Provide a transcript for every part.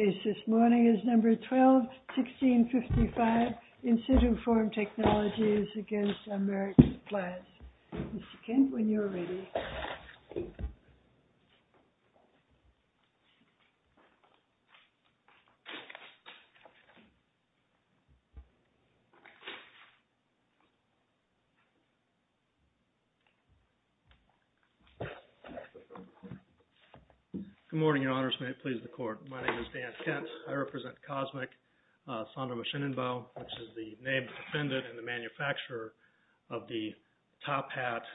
VLAES This morning is number 12, 1655 INSITUFORM TECHNOLOGIES against AMERIK's plans. Mr. Kent, when you're ready. Good morning, your honors. May it please the court. My name is Dan Kent. I represent COSMIC, Sondra Machinenbau, which is the name of the defendant and the manufacturer of the product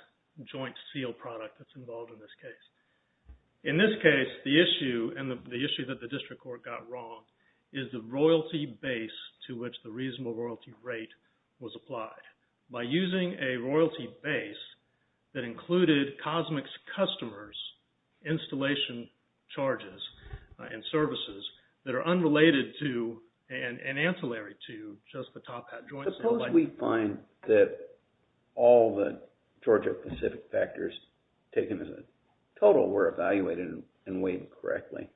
that's involved in this case. In this case, the issue, and the issue that the district court got wrong, is the royalty base to which the reasonable royalty rate was applied. By using a royalty base that included COSMIC's customers' installation charges and services that are unrelated to, and ancillary to, just the top-hat joint... If we find that all the Georgia Pacific factors taken as a total were evaluated and weighed correctly,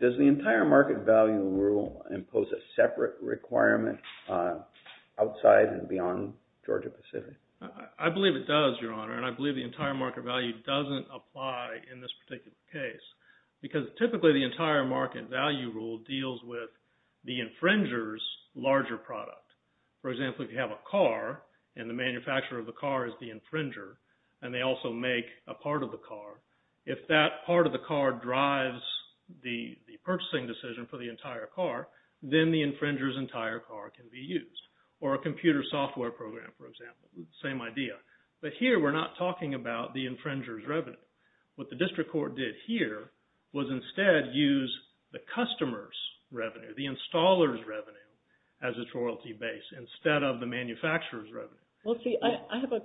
does the entire market value rule impose a separate requirement outside and beyond Georgia Pacific? I believe it does, your honor, and I believe the entire market value doesn't apply in this particular case because typically the entire market value rule deals with the infringer's larger product. For example, if you have a car, and the manufacturer of the car is the infringer, and they also make a part of the car, if that part of the car drives the purchasing decision for the entire car, then the infringer's entire car can be used. Or a computer software program, for example, same idea. But here we're not talking about the infringer's revenue. What the district court did here was instead use the customer's revenue, the installer's revenue, as its royalty base instead of the manufacturer's revenue. Well, see, I have a...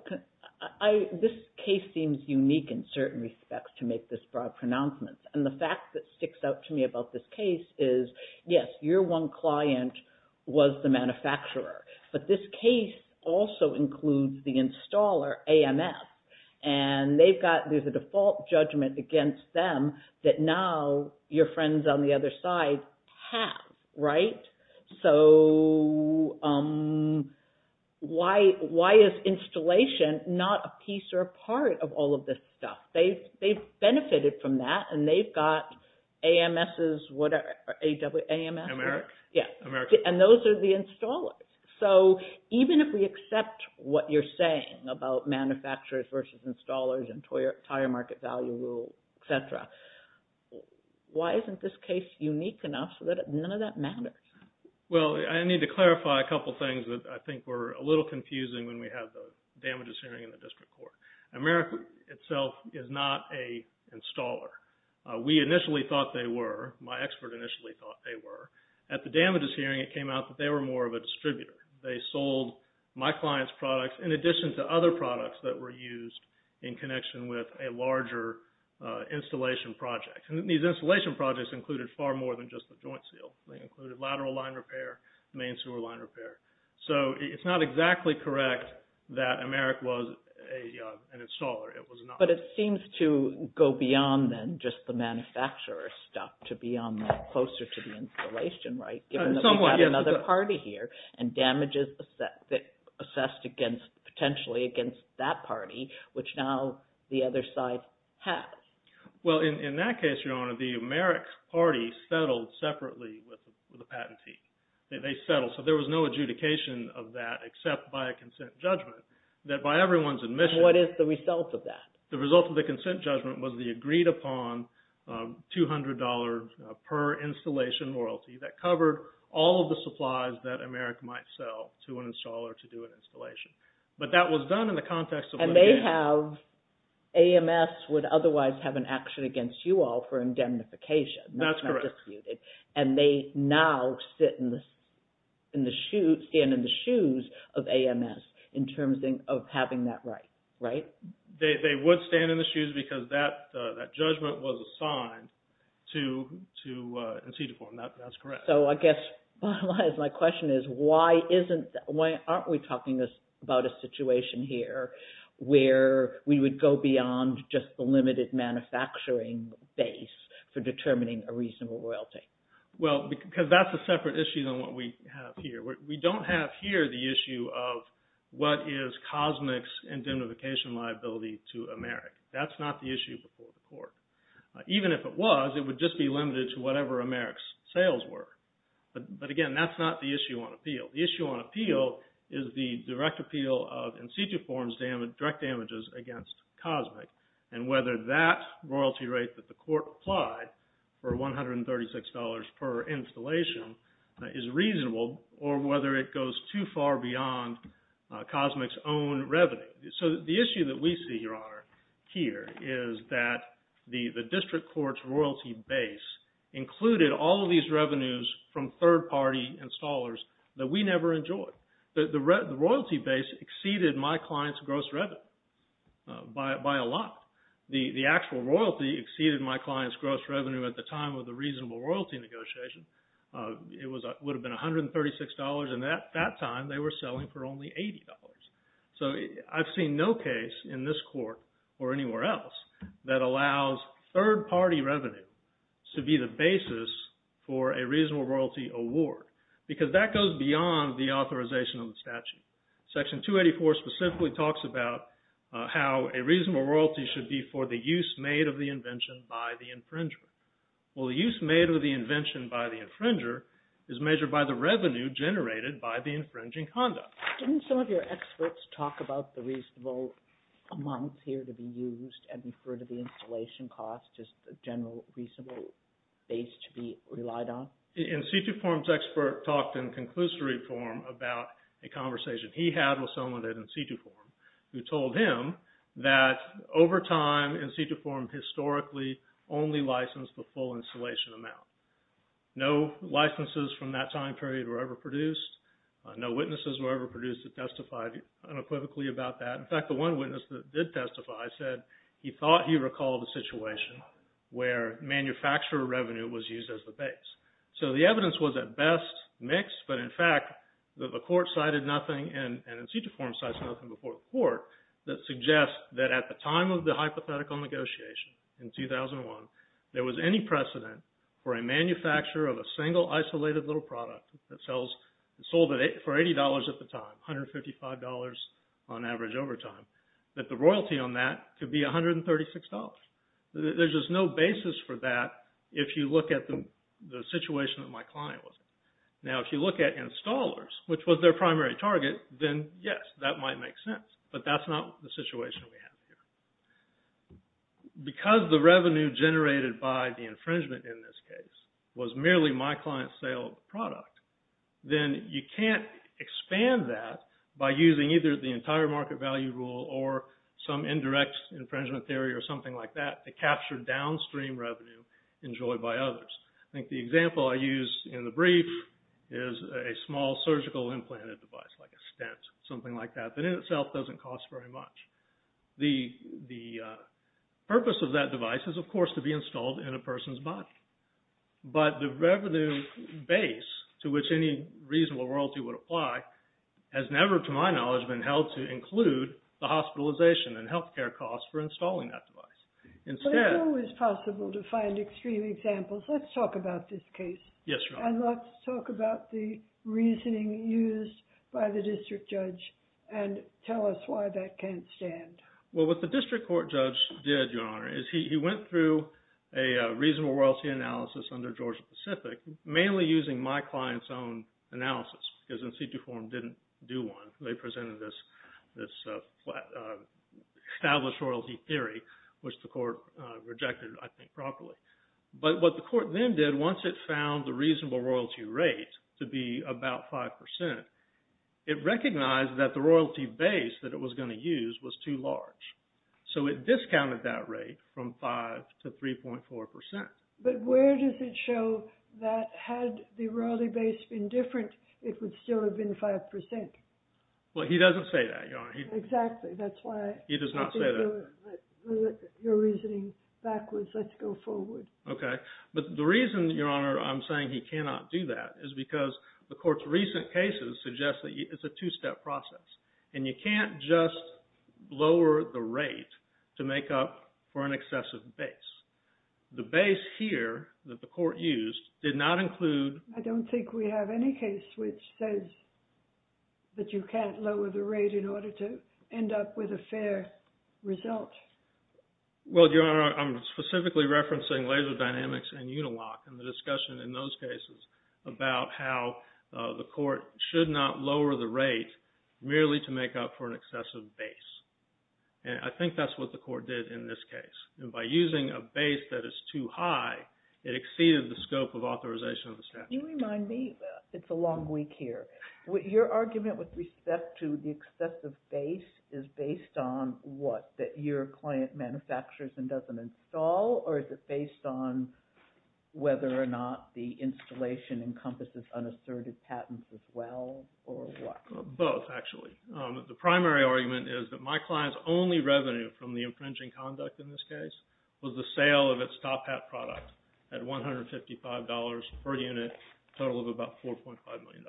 This case seems unique in certain respects to make this broad pronouncement, and the fact that sticks out to me about this case is, yes, your one client was the manufacturer, but this case also includes the installer, AMF, and they've got... So why is installation not a piece or a part of all of this stuff? They've benefited from that, and they've got AMS, whatever. AMS? America. And those are the installers. So even if we accept what you're saying about manufacturers versus installers and the entire market value rule, et cetera, why isn't this case unique enough so that none of that matters? Well, I need to clarify a couple things that I think were a little confusing when we had the damages hearing in the district court. America itself is not a installer. We initially thought they were. My expert initially thought they were. They sold my client's products in addition to other products that were used in connection with a larger installation project. And these installation projects included far more than just the joint seal. They included lateral line repair, main sewer line repair. So it's not exactly correct that America was an installer. It was not. But it seems to go beyond then just the manufacturer stuff to be on the closer to the installation, right? We have another party here and damages assessed potentially against that party, which now the other side has. Well, in that case, Your Honor, the Amerix party settled separately with the patentee. They settled. So there was no adjudication of that except by a consent judgment that by everyone's admission. What is the result of that? The result of the consent judgment was the agreed-upon $200 per installation royalty that covered all of the supplies that Amerix might sell to an installer to do an installation. But that was done in the context of what they had. And they have AMS would otherwise have an action against you all for indemnification. That's correct. That's not disputed. And they now stand in the shoes of AMS in terms of having that right, right? They would stand in the shoes because that judgment was assigned to So I guess my question is why aren't we talking about a situation here where we would go beyond just the limited manufacturing base for determining a reasonable royalty? Well, because that's a separate issue than what we have here. We don't have here the issue of what is Cosmic's indemnification liability to Amerix. That's not the issue before the court. Even if it was, it would just be limited to whatever Amerix sales were. But again, that's not the issue on appeal. The issue on appeal is the direct appeal of in situ forms direct damages against Cosmic and whether that royalty rate that the court applied for $136 per installation is reasonable or whether it goes too far beyond Cosmic's own revenue. So the issue that we see here is that the district court's royalty base included all of these revenues from third party installers that we never enjoyed. The royalty base exceeded my client's gross revenue by a lot. The actual royalty exceeded my client's gross revenue at the time of the reasonable royalty negotiation. It would have been $136 and at that time they were selling for only $80. So I've seen no case in this court or anywhere else that allows third party revenue to be the basis for a reasonable royalty award because that goes beyond the authorization of the statute. Section 284 specifically talks about how a reasonable royalty should be for the use made of the invention by the infringer. Well, the use made of the invention by the infringer is measured by the revenue generated by the infringing conduct. Didn't some of your experts talk about the reasonable amounts here to be used and refer to the installation cost as the general reasonable base to be relied on? In situ form's expert talked in conclusory form about a conversation he had with someone in situ form who told him that over time in situ form historically only licensed the full installation amount. No licenses from that time period were ever produced. No witnesses were ever produced that testified unequivocally about that. In fact, the one witness that did testify said he thought he recalled a situation where manufacturer revenue was used as the base. So the evidence was at best mixed but in fact the court cited nothing and in situ form cites nothing before the court that suggests that at the time of the hypothetical negotiation in 2001 there was any precedent for a manufacturer of a single isolated little product that sold for $80 at the time, $155 on average over time, that the royalty on that could be $136. There's just no basis for that if you look at the situation that my client was in. Now if you look at installers, which was their primary target, then yes, that might make sense but that's not the situation we have here. Because the revenue generated by the infringement in this case was merely my client's sale of the product, then you can't expand that by using either the entire market value rule or some indirect infringement theory or something like that to capture downstream revenue enjoyed by others. I think the example I used in the brief is a small surgical implanted device like a stent, something like that, that in itself doesn't cost very much. The purpose of that device is, of course, to be installed in a person's body. But the revenue base to which any reasonable royalty would apply has never, to my knowledge, been held to include the hospitalization and healthcare costs for installing that device. It's always possible to find extreme examples. Let's talk about this case. Yes, Your Honor. And let's talk about the reasoning used by the district judge and tell us why that can't stand. Well, what the district court judge did, Your Honor, is he went through a reasonable royalty analysis under Georgia-Pacific, mainly using my client's own analysis because in situ form didn't do one. They presented this established royalty theory, which the court rejected, I think, properly. But what the court then did, once it found the reasonable royalty rate to be about 5%, it recognized that the royalty base that it was going to use was too large. So it discounted that rate from 5% to 3.4%. But where does it show that had the royalty base been different, it would still have been 5%? Well, he doesn't say that, Your Honor. Exactly. That's why I think you're reasoning backwards. Let's go forward. Okay. But the reason, Your Honor, I'm saying he cannot do that is because the court's recent cases suggest that it's a two-step process, and you can't just lower the rate to make up for an excessive base. The base here that the court used did not include… I don't think we have any case which says that you can't lower the rate in order to end up with a fair result. Well, Your Honor, I'm specifically referencing laser dynamics and Unilock and the discussion in those cases about how the court should not lower the rate merely to make up for an excessive base. And I think that's what the court did in this case. And by using a base that is too high, it exceeded the scope of authorization of the statute. Can you remind me? It's a long week here. Your argument with respect to the excessive base is based on what? That your client manufactures and doesn't install, or is it based on whether or not the installation encompasses unasserted patents as well, or what? Both, actually. The primary argument is that my client's only revenue from the infringing conduct in this case was the sale of its top hat product at $155 per unit, a total of about $4.5 million,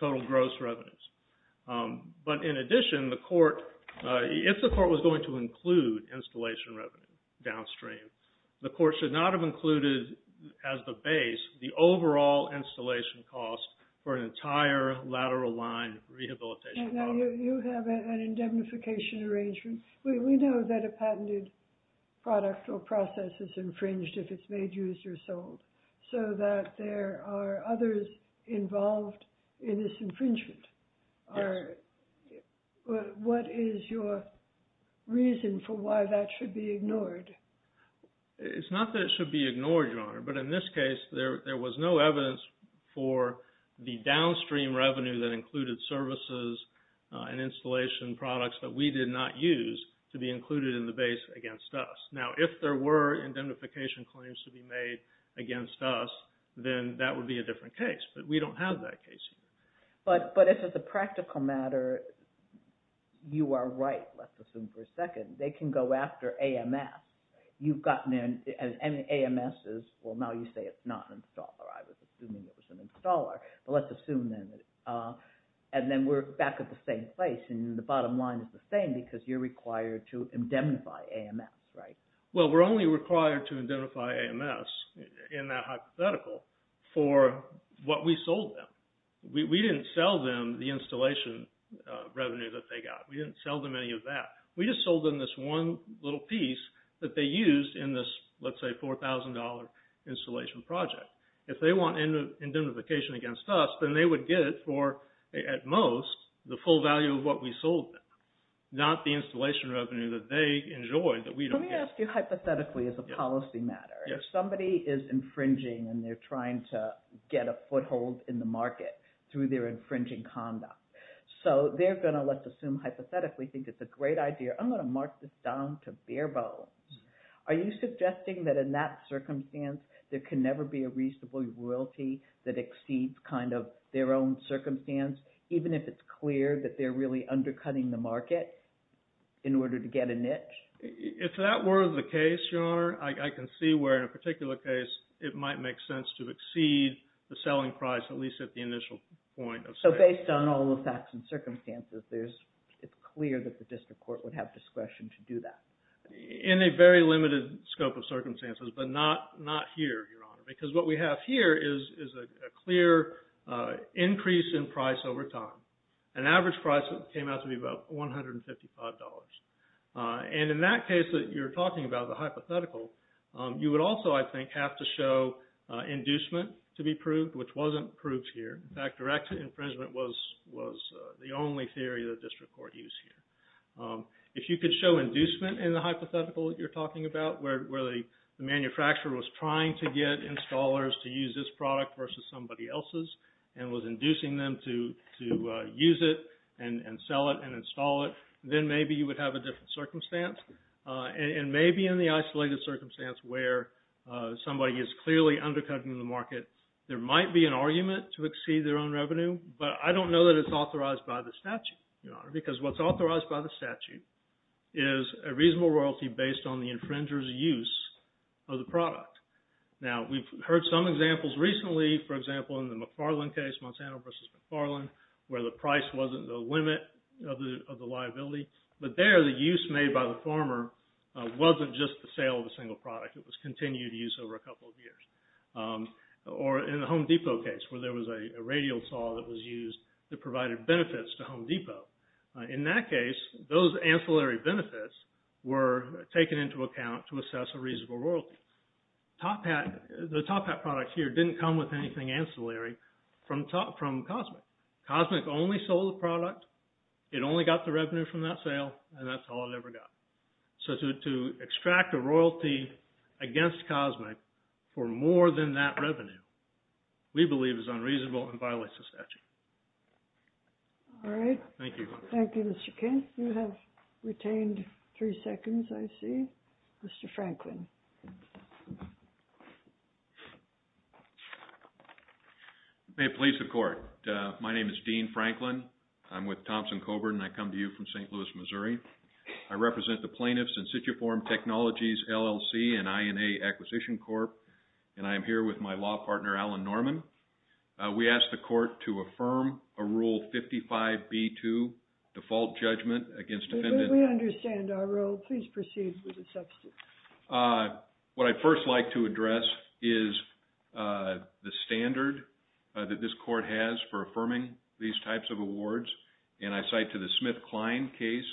total gross revenues. But in addition, the court, if the court was going to include installation revenue downstream, the court should not have included as the base the overall installation cost for an entire lateral line rehabilitation. You have an indemnification arrangement. We know that a patented product or process is infringed if it's made, used, or sold, so that there are others involved in this infringement. What is your reason for why that should be ignored? It's not that it should be ignored, Your Honor, but in this case there was no evidence for the downstream revenue that included services and installation products that we did not use to be included in the base against us. Now, if there were indemnification claims to be made against us, then that would be a different case, but we don't have that case. But if it's a practical matter, you are right, let's assume for a second. They can go after AMS. You've gotten in, and AMS is, well, now you say it's not an installer. I was assuming it was an installer, but let's assume then. And then we're back at the same place, and the bottom line is the same because you're required to indemnify AMS, right? Well, we're only required to indemnify AMS in that hypothetical for what we sold them. We didn't sell them the installation revenue that they got. We didn't sell them any of that. We just sold them this one little piece that they used in this, let's say, $4,000 installation project. If they want indemnification against us, then they would get it for, at most, the full value of what we sold them, not the installation revenue that they enjoyed that we don't get. Let me ask you hypothetically as a policy matter. If somebody is infringing and they're trying to get a foothold in the market through their infringing conduct, so they're going to, let's assume hypothetically, think it's a great idea. I'm going to mark this down to bare bones. Are you suggesting that in that circumstance, there can never be a reasonable royalty that exceeds their own circumstance, even if it's clear that they're really undercutting the market in order to get a niche? If that were the case, Your Honor, I can see where, in a particular case, it might make sense to exceed the selling price, at least at the initial point of sale. Based on all the facts and circumstances, it's clear that the district court would have discretion to do that. In a very limited scope of circumstances, but not here, Your Honor, because what we have here is a clear increase in price over time. An average price came out to be about $155. In that case that you're talking about, the hypothetical, you would also, I think, have to show inducement to be proved, which wasn't proved here. In fact, direct infringement was the only theory the district court used here. If you could show inducement in the hypothetical that you're talking about, where the manufacturer was trying to get installers to use this product versus somebody else's and was inducing them to use it and sell it and install it, then maybe you would have a different circumstance. And maybe in the isolated circumstance where somebody is clearly undercutting the market, there might be an argument to exceed their own revenue, but I don't know that it's authorized by the statute, Your Honor, because what's authorized by the statute is a reasonable royalty based on the infringer's use of the product. Now, we've heard some examples recently, for example, in the McFarland case, Monsanto versus McFarland, where the price wasn't the limit of the liability, but there the use made by the farmer wasn't just the sale of a single product. It was continued use over a couple of years. Or in the Home Depot case, where there was a radial saw that was used that provided benefits to Home Depot. In that case, those ancillary benefits were taken into account to assess a reasonable royalty. The Top Hat product here didn't come with anything ancillary from COSMIC. COSMIC only sold the product, it only got the revenue from that sale, and that's all it ever got. So to extract a royalty against COSMIC for more than that revenue, we believe is unreasonable and violates the statute. All right. Thank you. Thank you, Mr. Kent. You have retained three seconds, I see. Mr. Franklin. May it please the Court. My name is Dean Franklin. I'm with Thompson-Coburn, and I come to you from St. Louis, Missouri. I represent the Plaintiffs In Situ Form Technologies LLC and INA Acquisition Corp, and I am here with my law partner, Alan Norman. We ask the Court to affirm a Rule 55B2, Default Judgment Against Defendant. We understand our role. Please proceed with the substance. What I'd first like to address is the standard that this Court has for affirming these types of awards, and I cite to the Smith-Klein case,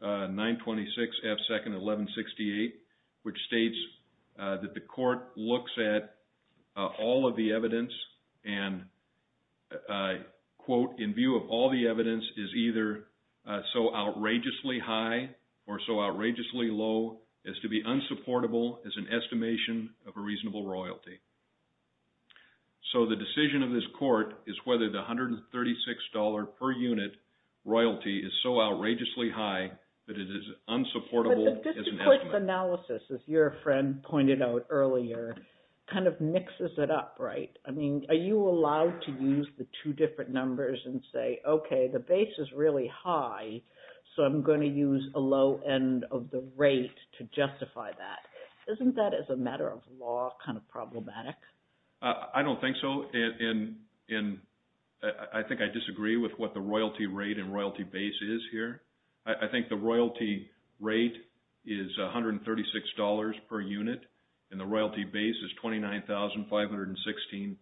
926 F. 2nd. 1168, which states that the Court looks at all of the evidence and, quote, in view of all the evidence is either so outrageously high or so outrageously low as to be unsupportable as an estimation of a reasonable royalty. So the decision of this Court is whether the $136 per unit royalty is so outrageously high that it is unsupportable as an estimate. The Court's analysis, as your friend pointed out earlier, kind of mixes it up, right? I mean, are you allowed to use the two different numbers and say, okay, the base is really high, so I'm going to use a low end of the rate to justify that? Isn't that, as a matter of law, kind of problematic? I don't think so. I think I disagree with what the royalty rate and royalty base is here. I think the royalty rate is $136 per unit and the royalty base is 29,516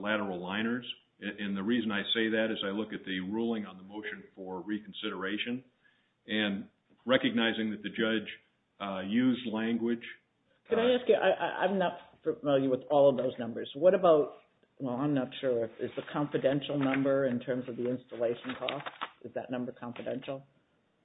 lateral liners. And the reason I say that is I look at the ruling on the motion for reconsideration and recognizing that the judge used language. Can I ask you, I'm not familiar with all of those numbers. What about, well, I'm not sure, is the confidential number in terms of the installation cost, is that number confidential?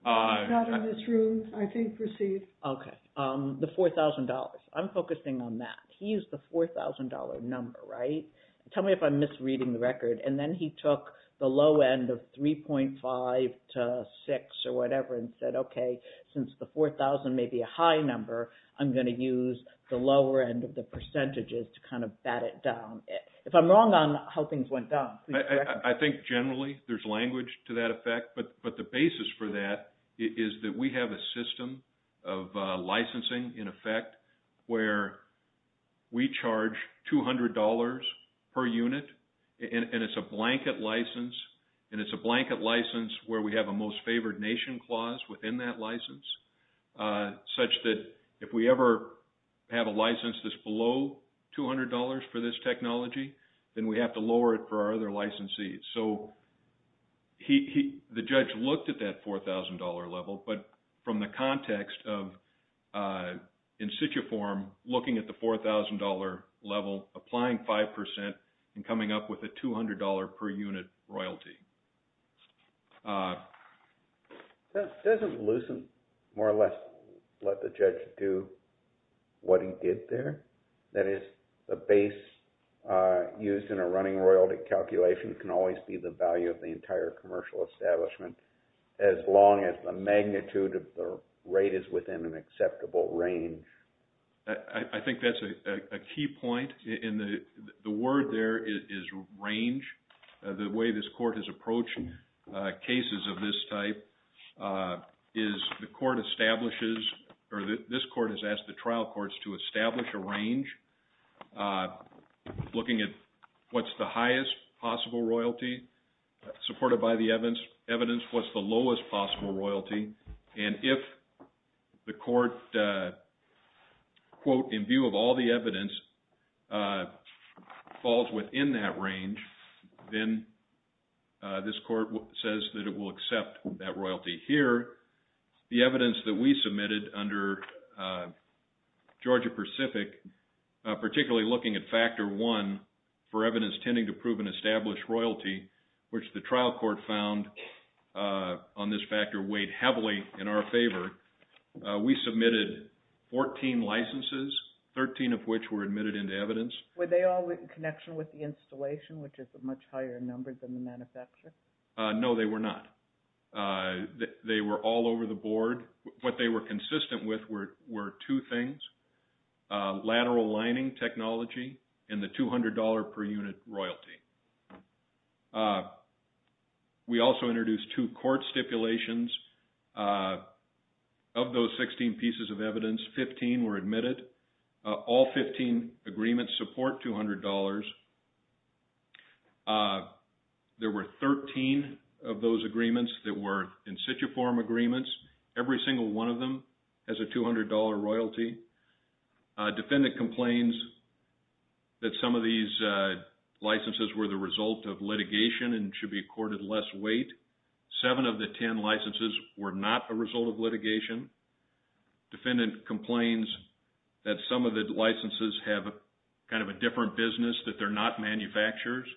Not in this room. I think received. Okay. The $4,000. I'm focusing on that. He used the $4,000 number, right? Tell me if I'm misreading the record. And then he took the low end of 3.5 to 6 or whatever and said, okay, since the $4,000 may be a high number, I'm going to use the lower end of the percentages to kind of bat it down. If I'm wrong on how things went down, please correct me. I think generally there's language to that effect, but the basis for that is that we have a system of licensing in effect where we charge $200 per unit and it's a blanket license, and it's a blanket license where we have a most favored nation clause within that license such that if we ever have a license that's below $200 for this technology, then we have to lower it for our other licensees. So the judge looked at that $4,000 level, but from the context of in situ form, looking at the $4,000 level, applying 5% and coming up with a $200 per unit royalty. Doesn't Lucent more or less let the judge do what he did there? That is, the base used in a running royalty calculation can always be the value of the entire commercial establishment as long as the magnitude of the rate is within an acceptable range. I think that's a key point, and the word there is range. The way this court has approached cases of this type is the court establishes, or this court has asked the trial courts to establish a range looking at what's the highest possible royalty supported by the evidence, what's the lowest possible royalty, and if the court, quote, in view of all the evidence falls within that range, then this court says that it will accept that royalty here. The evidence that we submitted under Georgia-Pacific, particularly looking at Factor 1, for evidence tending to prove an established royalty, which the trial court found on this factor weighed heavily in our favor, we submitted 14 licenses, 13 of which were admitted into evidence. Were they all in connection with the installation, which is a much higher number than the manufacturer? No, they were not. They were all over the board. What they were consistent with were two things, lateral lining technology and the $200 per unit royalty. We also introduced two court stipulations. Of those 16 pieces of evidence, 15 were admitted. All 15 agreements support $200. There were 13 of those agreements that were in situ form agreements. Every single one of them has a $200 royalty. Defendant complains that some of these licenses were the result of litigation and should be accorded less weight. Seven of the 10 licenses were not a result of litigation. Defendant complains that some of the licenses have kind of a different business, that they're not manufacturers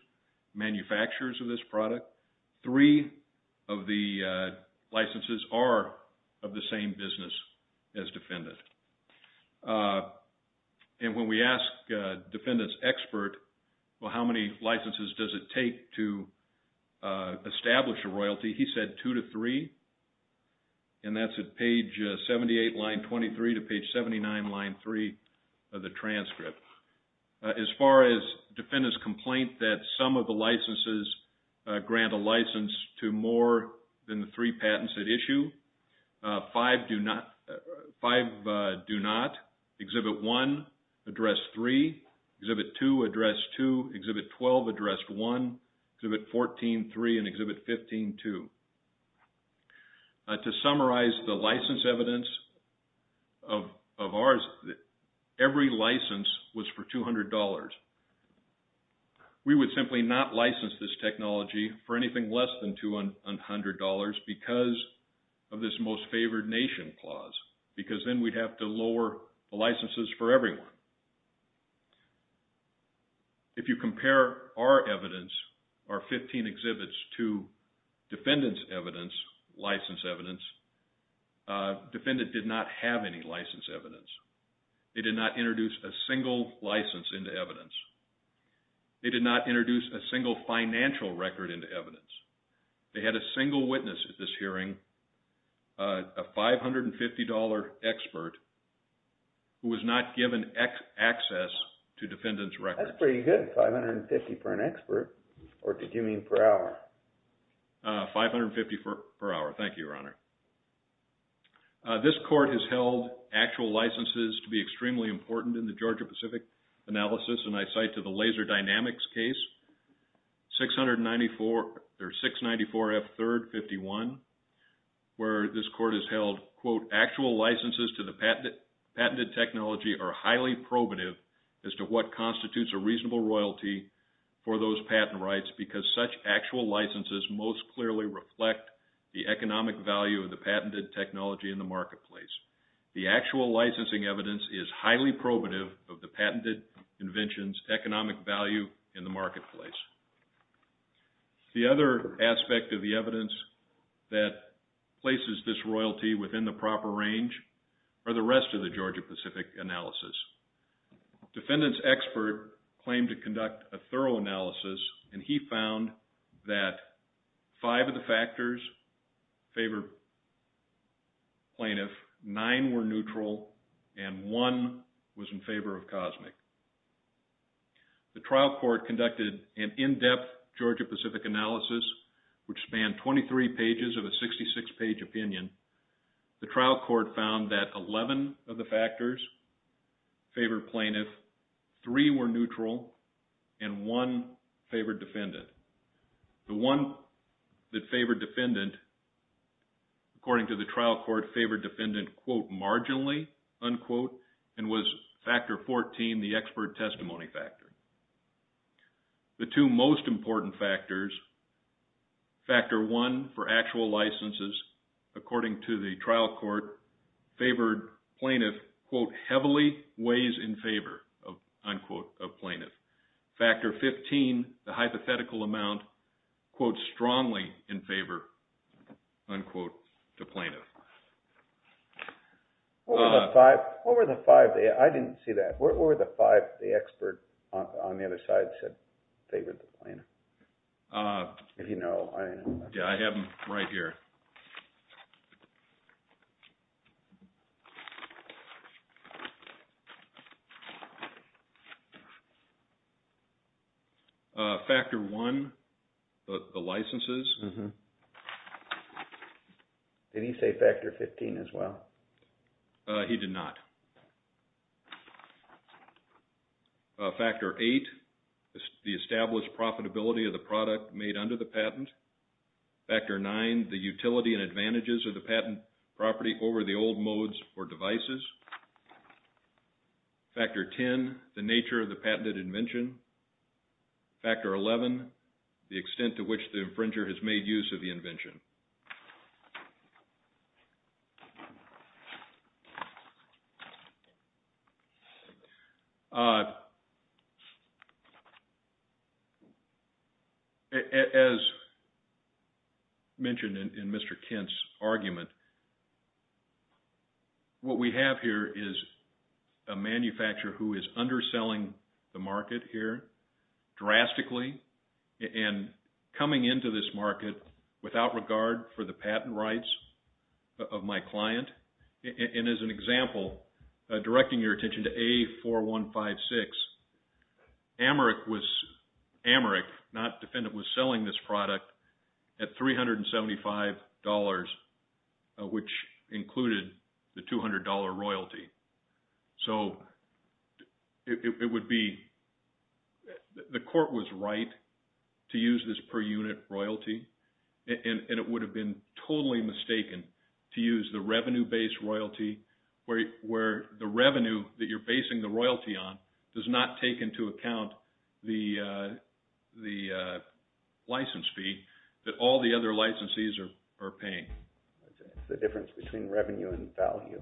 of this product. Three of the licenses are of the same business as defendant. When we asked defendant's expert, how many licenses does it take to establish a royalty, he said two to three. That's at page 78, line 23 to page 79, line 3 of the transcript. As far as defendant's complaint that some of the licenses grant a license to more than the three patents at issue, five do not. Exhibit 1, address 3. Exhibit 2, address 2. Exhibit 12, address 1. Exhibit 14, 3. And Exhibit 15, 2. To summarize the license evidence of ours, every license was for $200. We would simply not license this technology for anything less than $200 because of this Most Favored Nation Clause, because then we'd have to lower the licenses for everyone. If you compare our evidence, our 15 exhibits, to defendant's evidence, license evidence, defendant did not have any license evidence. They did not introduce a single license into evidence. They did not introduce a single financial record into evidence. They had a single witness at this hearing, a $550 expert who was not given access to defendant's record. That's pretty good, $550 for an expert. Or did you mean per hour? $550 per hour. Thank you, Your Honor. This court has held actual licenses to be extremely important in the Georgia-Pacific analysis, and I cite to the Laser Dynamics case, 694F3-51, where this court has held, quote, actual licenses to the patented technology are highly probative as to what constitutes a reasonable royalty for those patent rights because such actual licenses most clearly reflect the economic value of the patented technology in the marketplace. The actual licensing evidence is highly probative of the patented invention's economic value in the marketplace. The other aspect of the evidence that places this royalty within the proper range are the rest of the Georgia-Pacific analysis. Defendant's expert claimed to conduct a thorough analysis, and he found that five of the factors favored plaintiff, nine were neutral, and one was in favor of COSMIC. The trial court conducted an in-depth Georgia-Pacific analysis which spanned 23 pages of a 66-page opinion. The trial court found that 11 of the factors favored plaintiff, three were neutral, and one favored defendant. The one that favored defendant, according to the trial court, favored defendant, quote, marginally, unquote, and was factor 14, the expert testimony factor. The two most important factors, factor one for actual licenses, according to the trial court, favored plaintiff, quote, heavily weighs in favor, unquote, of plaintiff. Factor 15, the hypothetical amount, quote, strongly in favor, unquote, to plaintiff. What were the five? I didn't see that. What were the five the expert on the other side said favored the plaintiff? If you know. Yeah, I have them right here. Factor one, the licenses. Did he say factor 15 as well? He did not. Factor eight, the established profitability of the product made under the patent. Factor nine, the utility and advantages of the patent property over the old modes or devices. Factor 10, the nature of the patented invention. Factor 11, the extent to which the infringer has made use of the invention. As mentioned in Mr. Kent's argument, what we have here is a manufacturer who is underselling the market here drastically and coming into this market without regard for the patent rights of my client. And as an example, directing your attention to A4156, Amarik, not defendant, was selling this product at $375, which included the $200 royalty. So, it would be, the court was right to use this per unit royalty and it would have been totally mistaken to use the revenue-based royalty where the revenue that you're basing the royalty on does not take into account the license fee that all the other licensees are paying. It's the difference between revenue and value.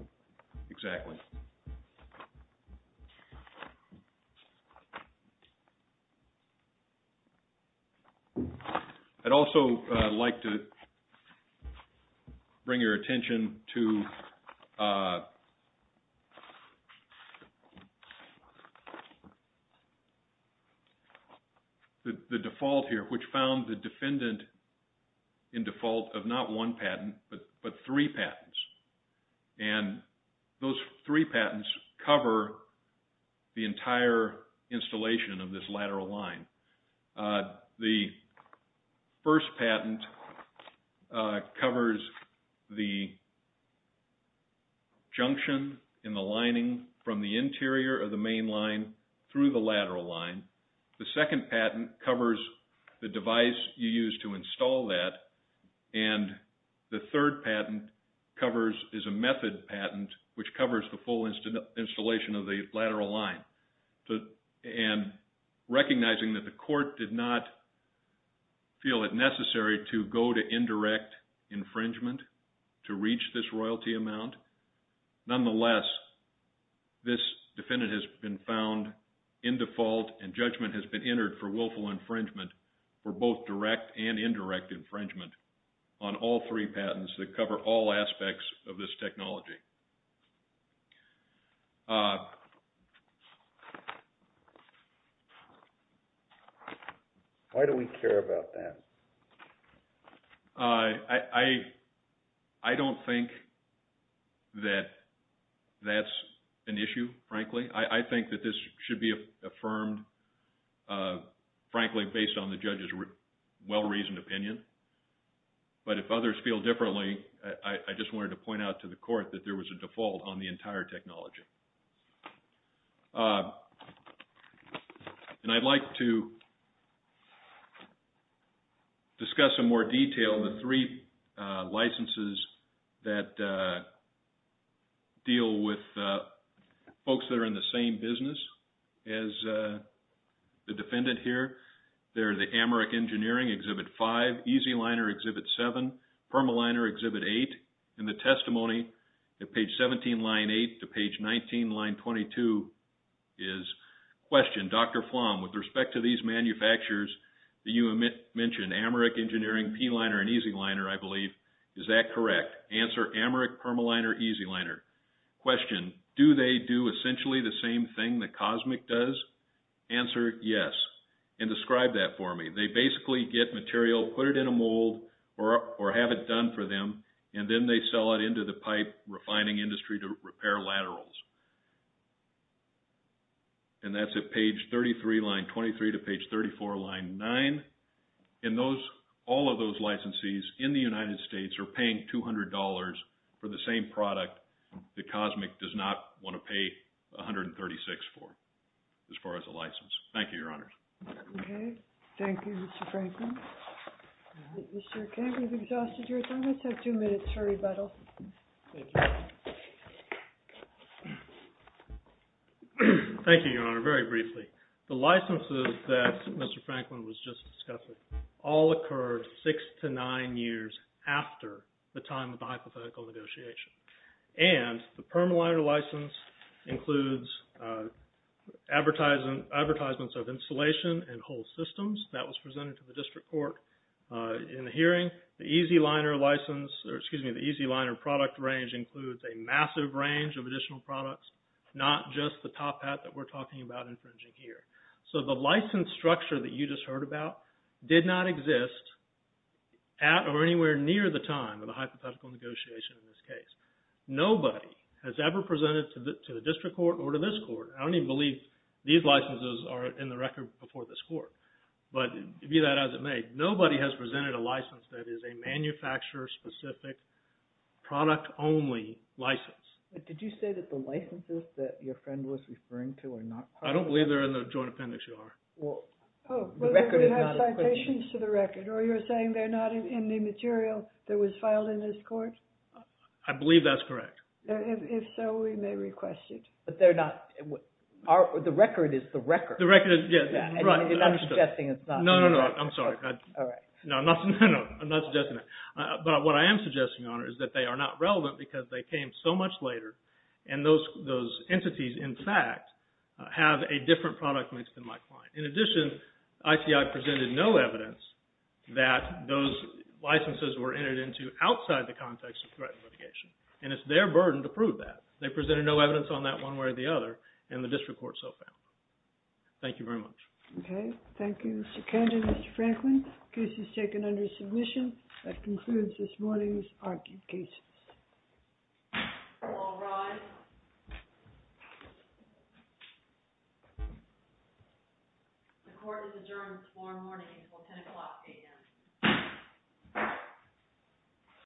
Exactly. I'd also like to bring your attention to the default here, which found the defendant in default of not one patent, but three patents. And those three patents cover the entire installation of this lateral line. The first patent covers the junction in the lining from the interior of the main line through the lateral line. The second patent covers the device you use to install that. And the third patent covers, is a method patent, which covers the full installation of the lateral line. And recognizing that the court did not feel it necessary to go to indirect infringement to reach this royalty amount, nonetheless, this defendant has been found in default and judgment has been entered for willful infringement for both direct and indirect infringement on all three patents that cover all aspects of this technology. Why do we care about that? I don't think that that's an issue, frankly. I think that this should be affirmed, frankly, based on the judge's well-reasoned opinion. But if others feel differently, I just wanted to point out to the court that there was a default on the entire technology. And I'd like to discuss in more detail the three licenses that deal with folks that are in the same business as the defendant here. They're the Amarik Engineering, Exhibit 5, EZ Liner, Exhibit 7, Permaliner, Exhibit 8. And the testimony at page 17, line 8, to page 19, line 22, is question, Dr. Flom, with respect to these manufacturers that you mentioned, Amarik Engineering, P-Liner, and EZ Liner, I believe, is that correct? Answer, Amarik, Permaliner, EZ Liner. Question, do they do essentially the same thing that COSMIC does? Answer, yes. And describe that for me. They basically get material, put it in a mold, or have it done for them, and then they sell it into the pipe refining industry to repair laterals. And that's at page 33, line 23, to page 34, line 9. All of those licensees in the United States are paying $200 for the same product that COSMIC does not want to pay $136 for, as far as a license. Thank you, Your Honors. Okay. Thank you, Mr. Franklin. Mr. Kemp, you've exhausted your time. Let's have two minutes for rebuttal. Thank you, Your Honor. Very briefly. The licenses that Mr. Franklin was just discussing all occurred six to nine years after the time of the hypothetical negotiation. And the Permaliner license includes advertisements of installation and whole systems. That was presented to the district court in the hearing. The EZ Liner license, or excuse me, the EZ Liner product range includes a massive range of additional products, not just the top hat that we're talking about infringing here. So the license structure that you just heard about did not exist at or anywhere near the time of the hypothetical negotiation in this case. Nobody has ever presented to the district court or to this court, I don't even believe these licenses are in the record before this court, but view that as it may. Nobody has presented a license that is a manufacturer-specific, product-only license. Did you say that the licenses that your friend was referring to are not part of the record? I don't believe they're in the joint appendix, Your Honor. Well, the record is not a question. You have citations to the record, or you're saying they're not in the material that was filed in this court? I believe that's correct. If so, we may request it. But they're not. The record is the record. The record is, yes. Right. I'm suggesting it's not. I'm sorry. All right. No, I'm not suggesting that. But what I am suggesting, Your Honor, is that they are not relevant because they came so much later, and those entities, in fact, have a different product mix than my client. In addition, ICI presented no evidence that those licenses were entered into outside the context of threat litigation, and it's their burden to prove that. They presented no evidence on that one way or the other, and the district court so found. Thank you very much. Okay. Thank you, Mr. Kender, Mr. Franklin. The case is taken under submission. That concludes this morning's argued cases. All rise. The court is adjourned this morning until 10 o'clock a.m.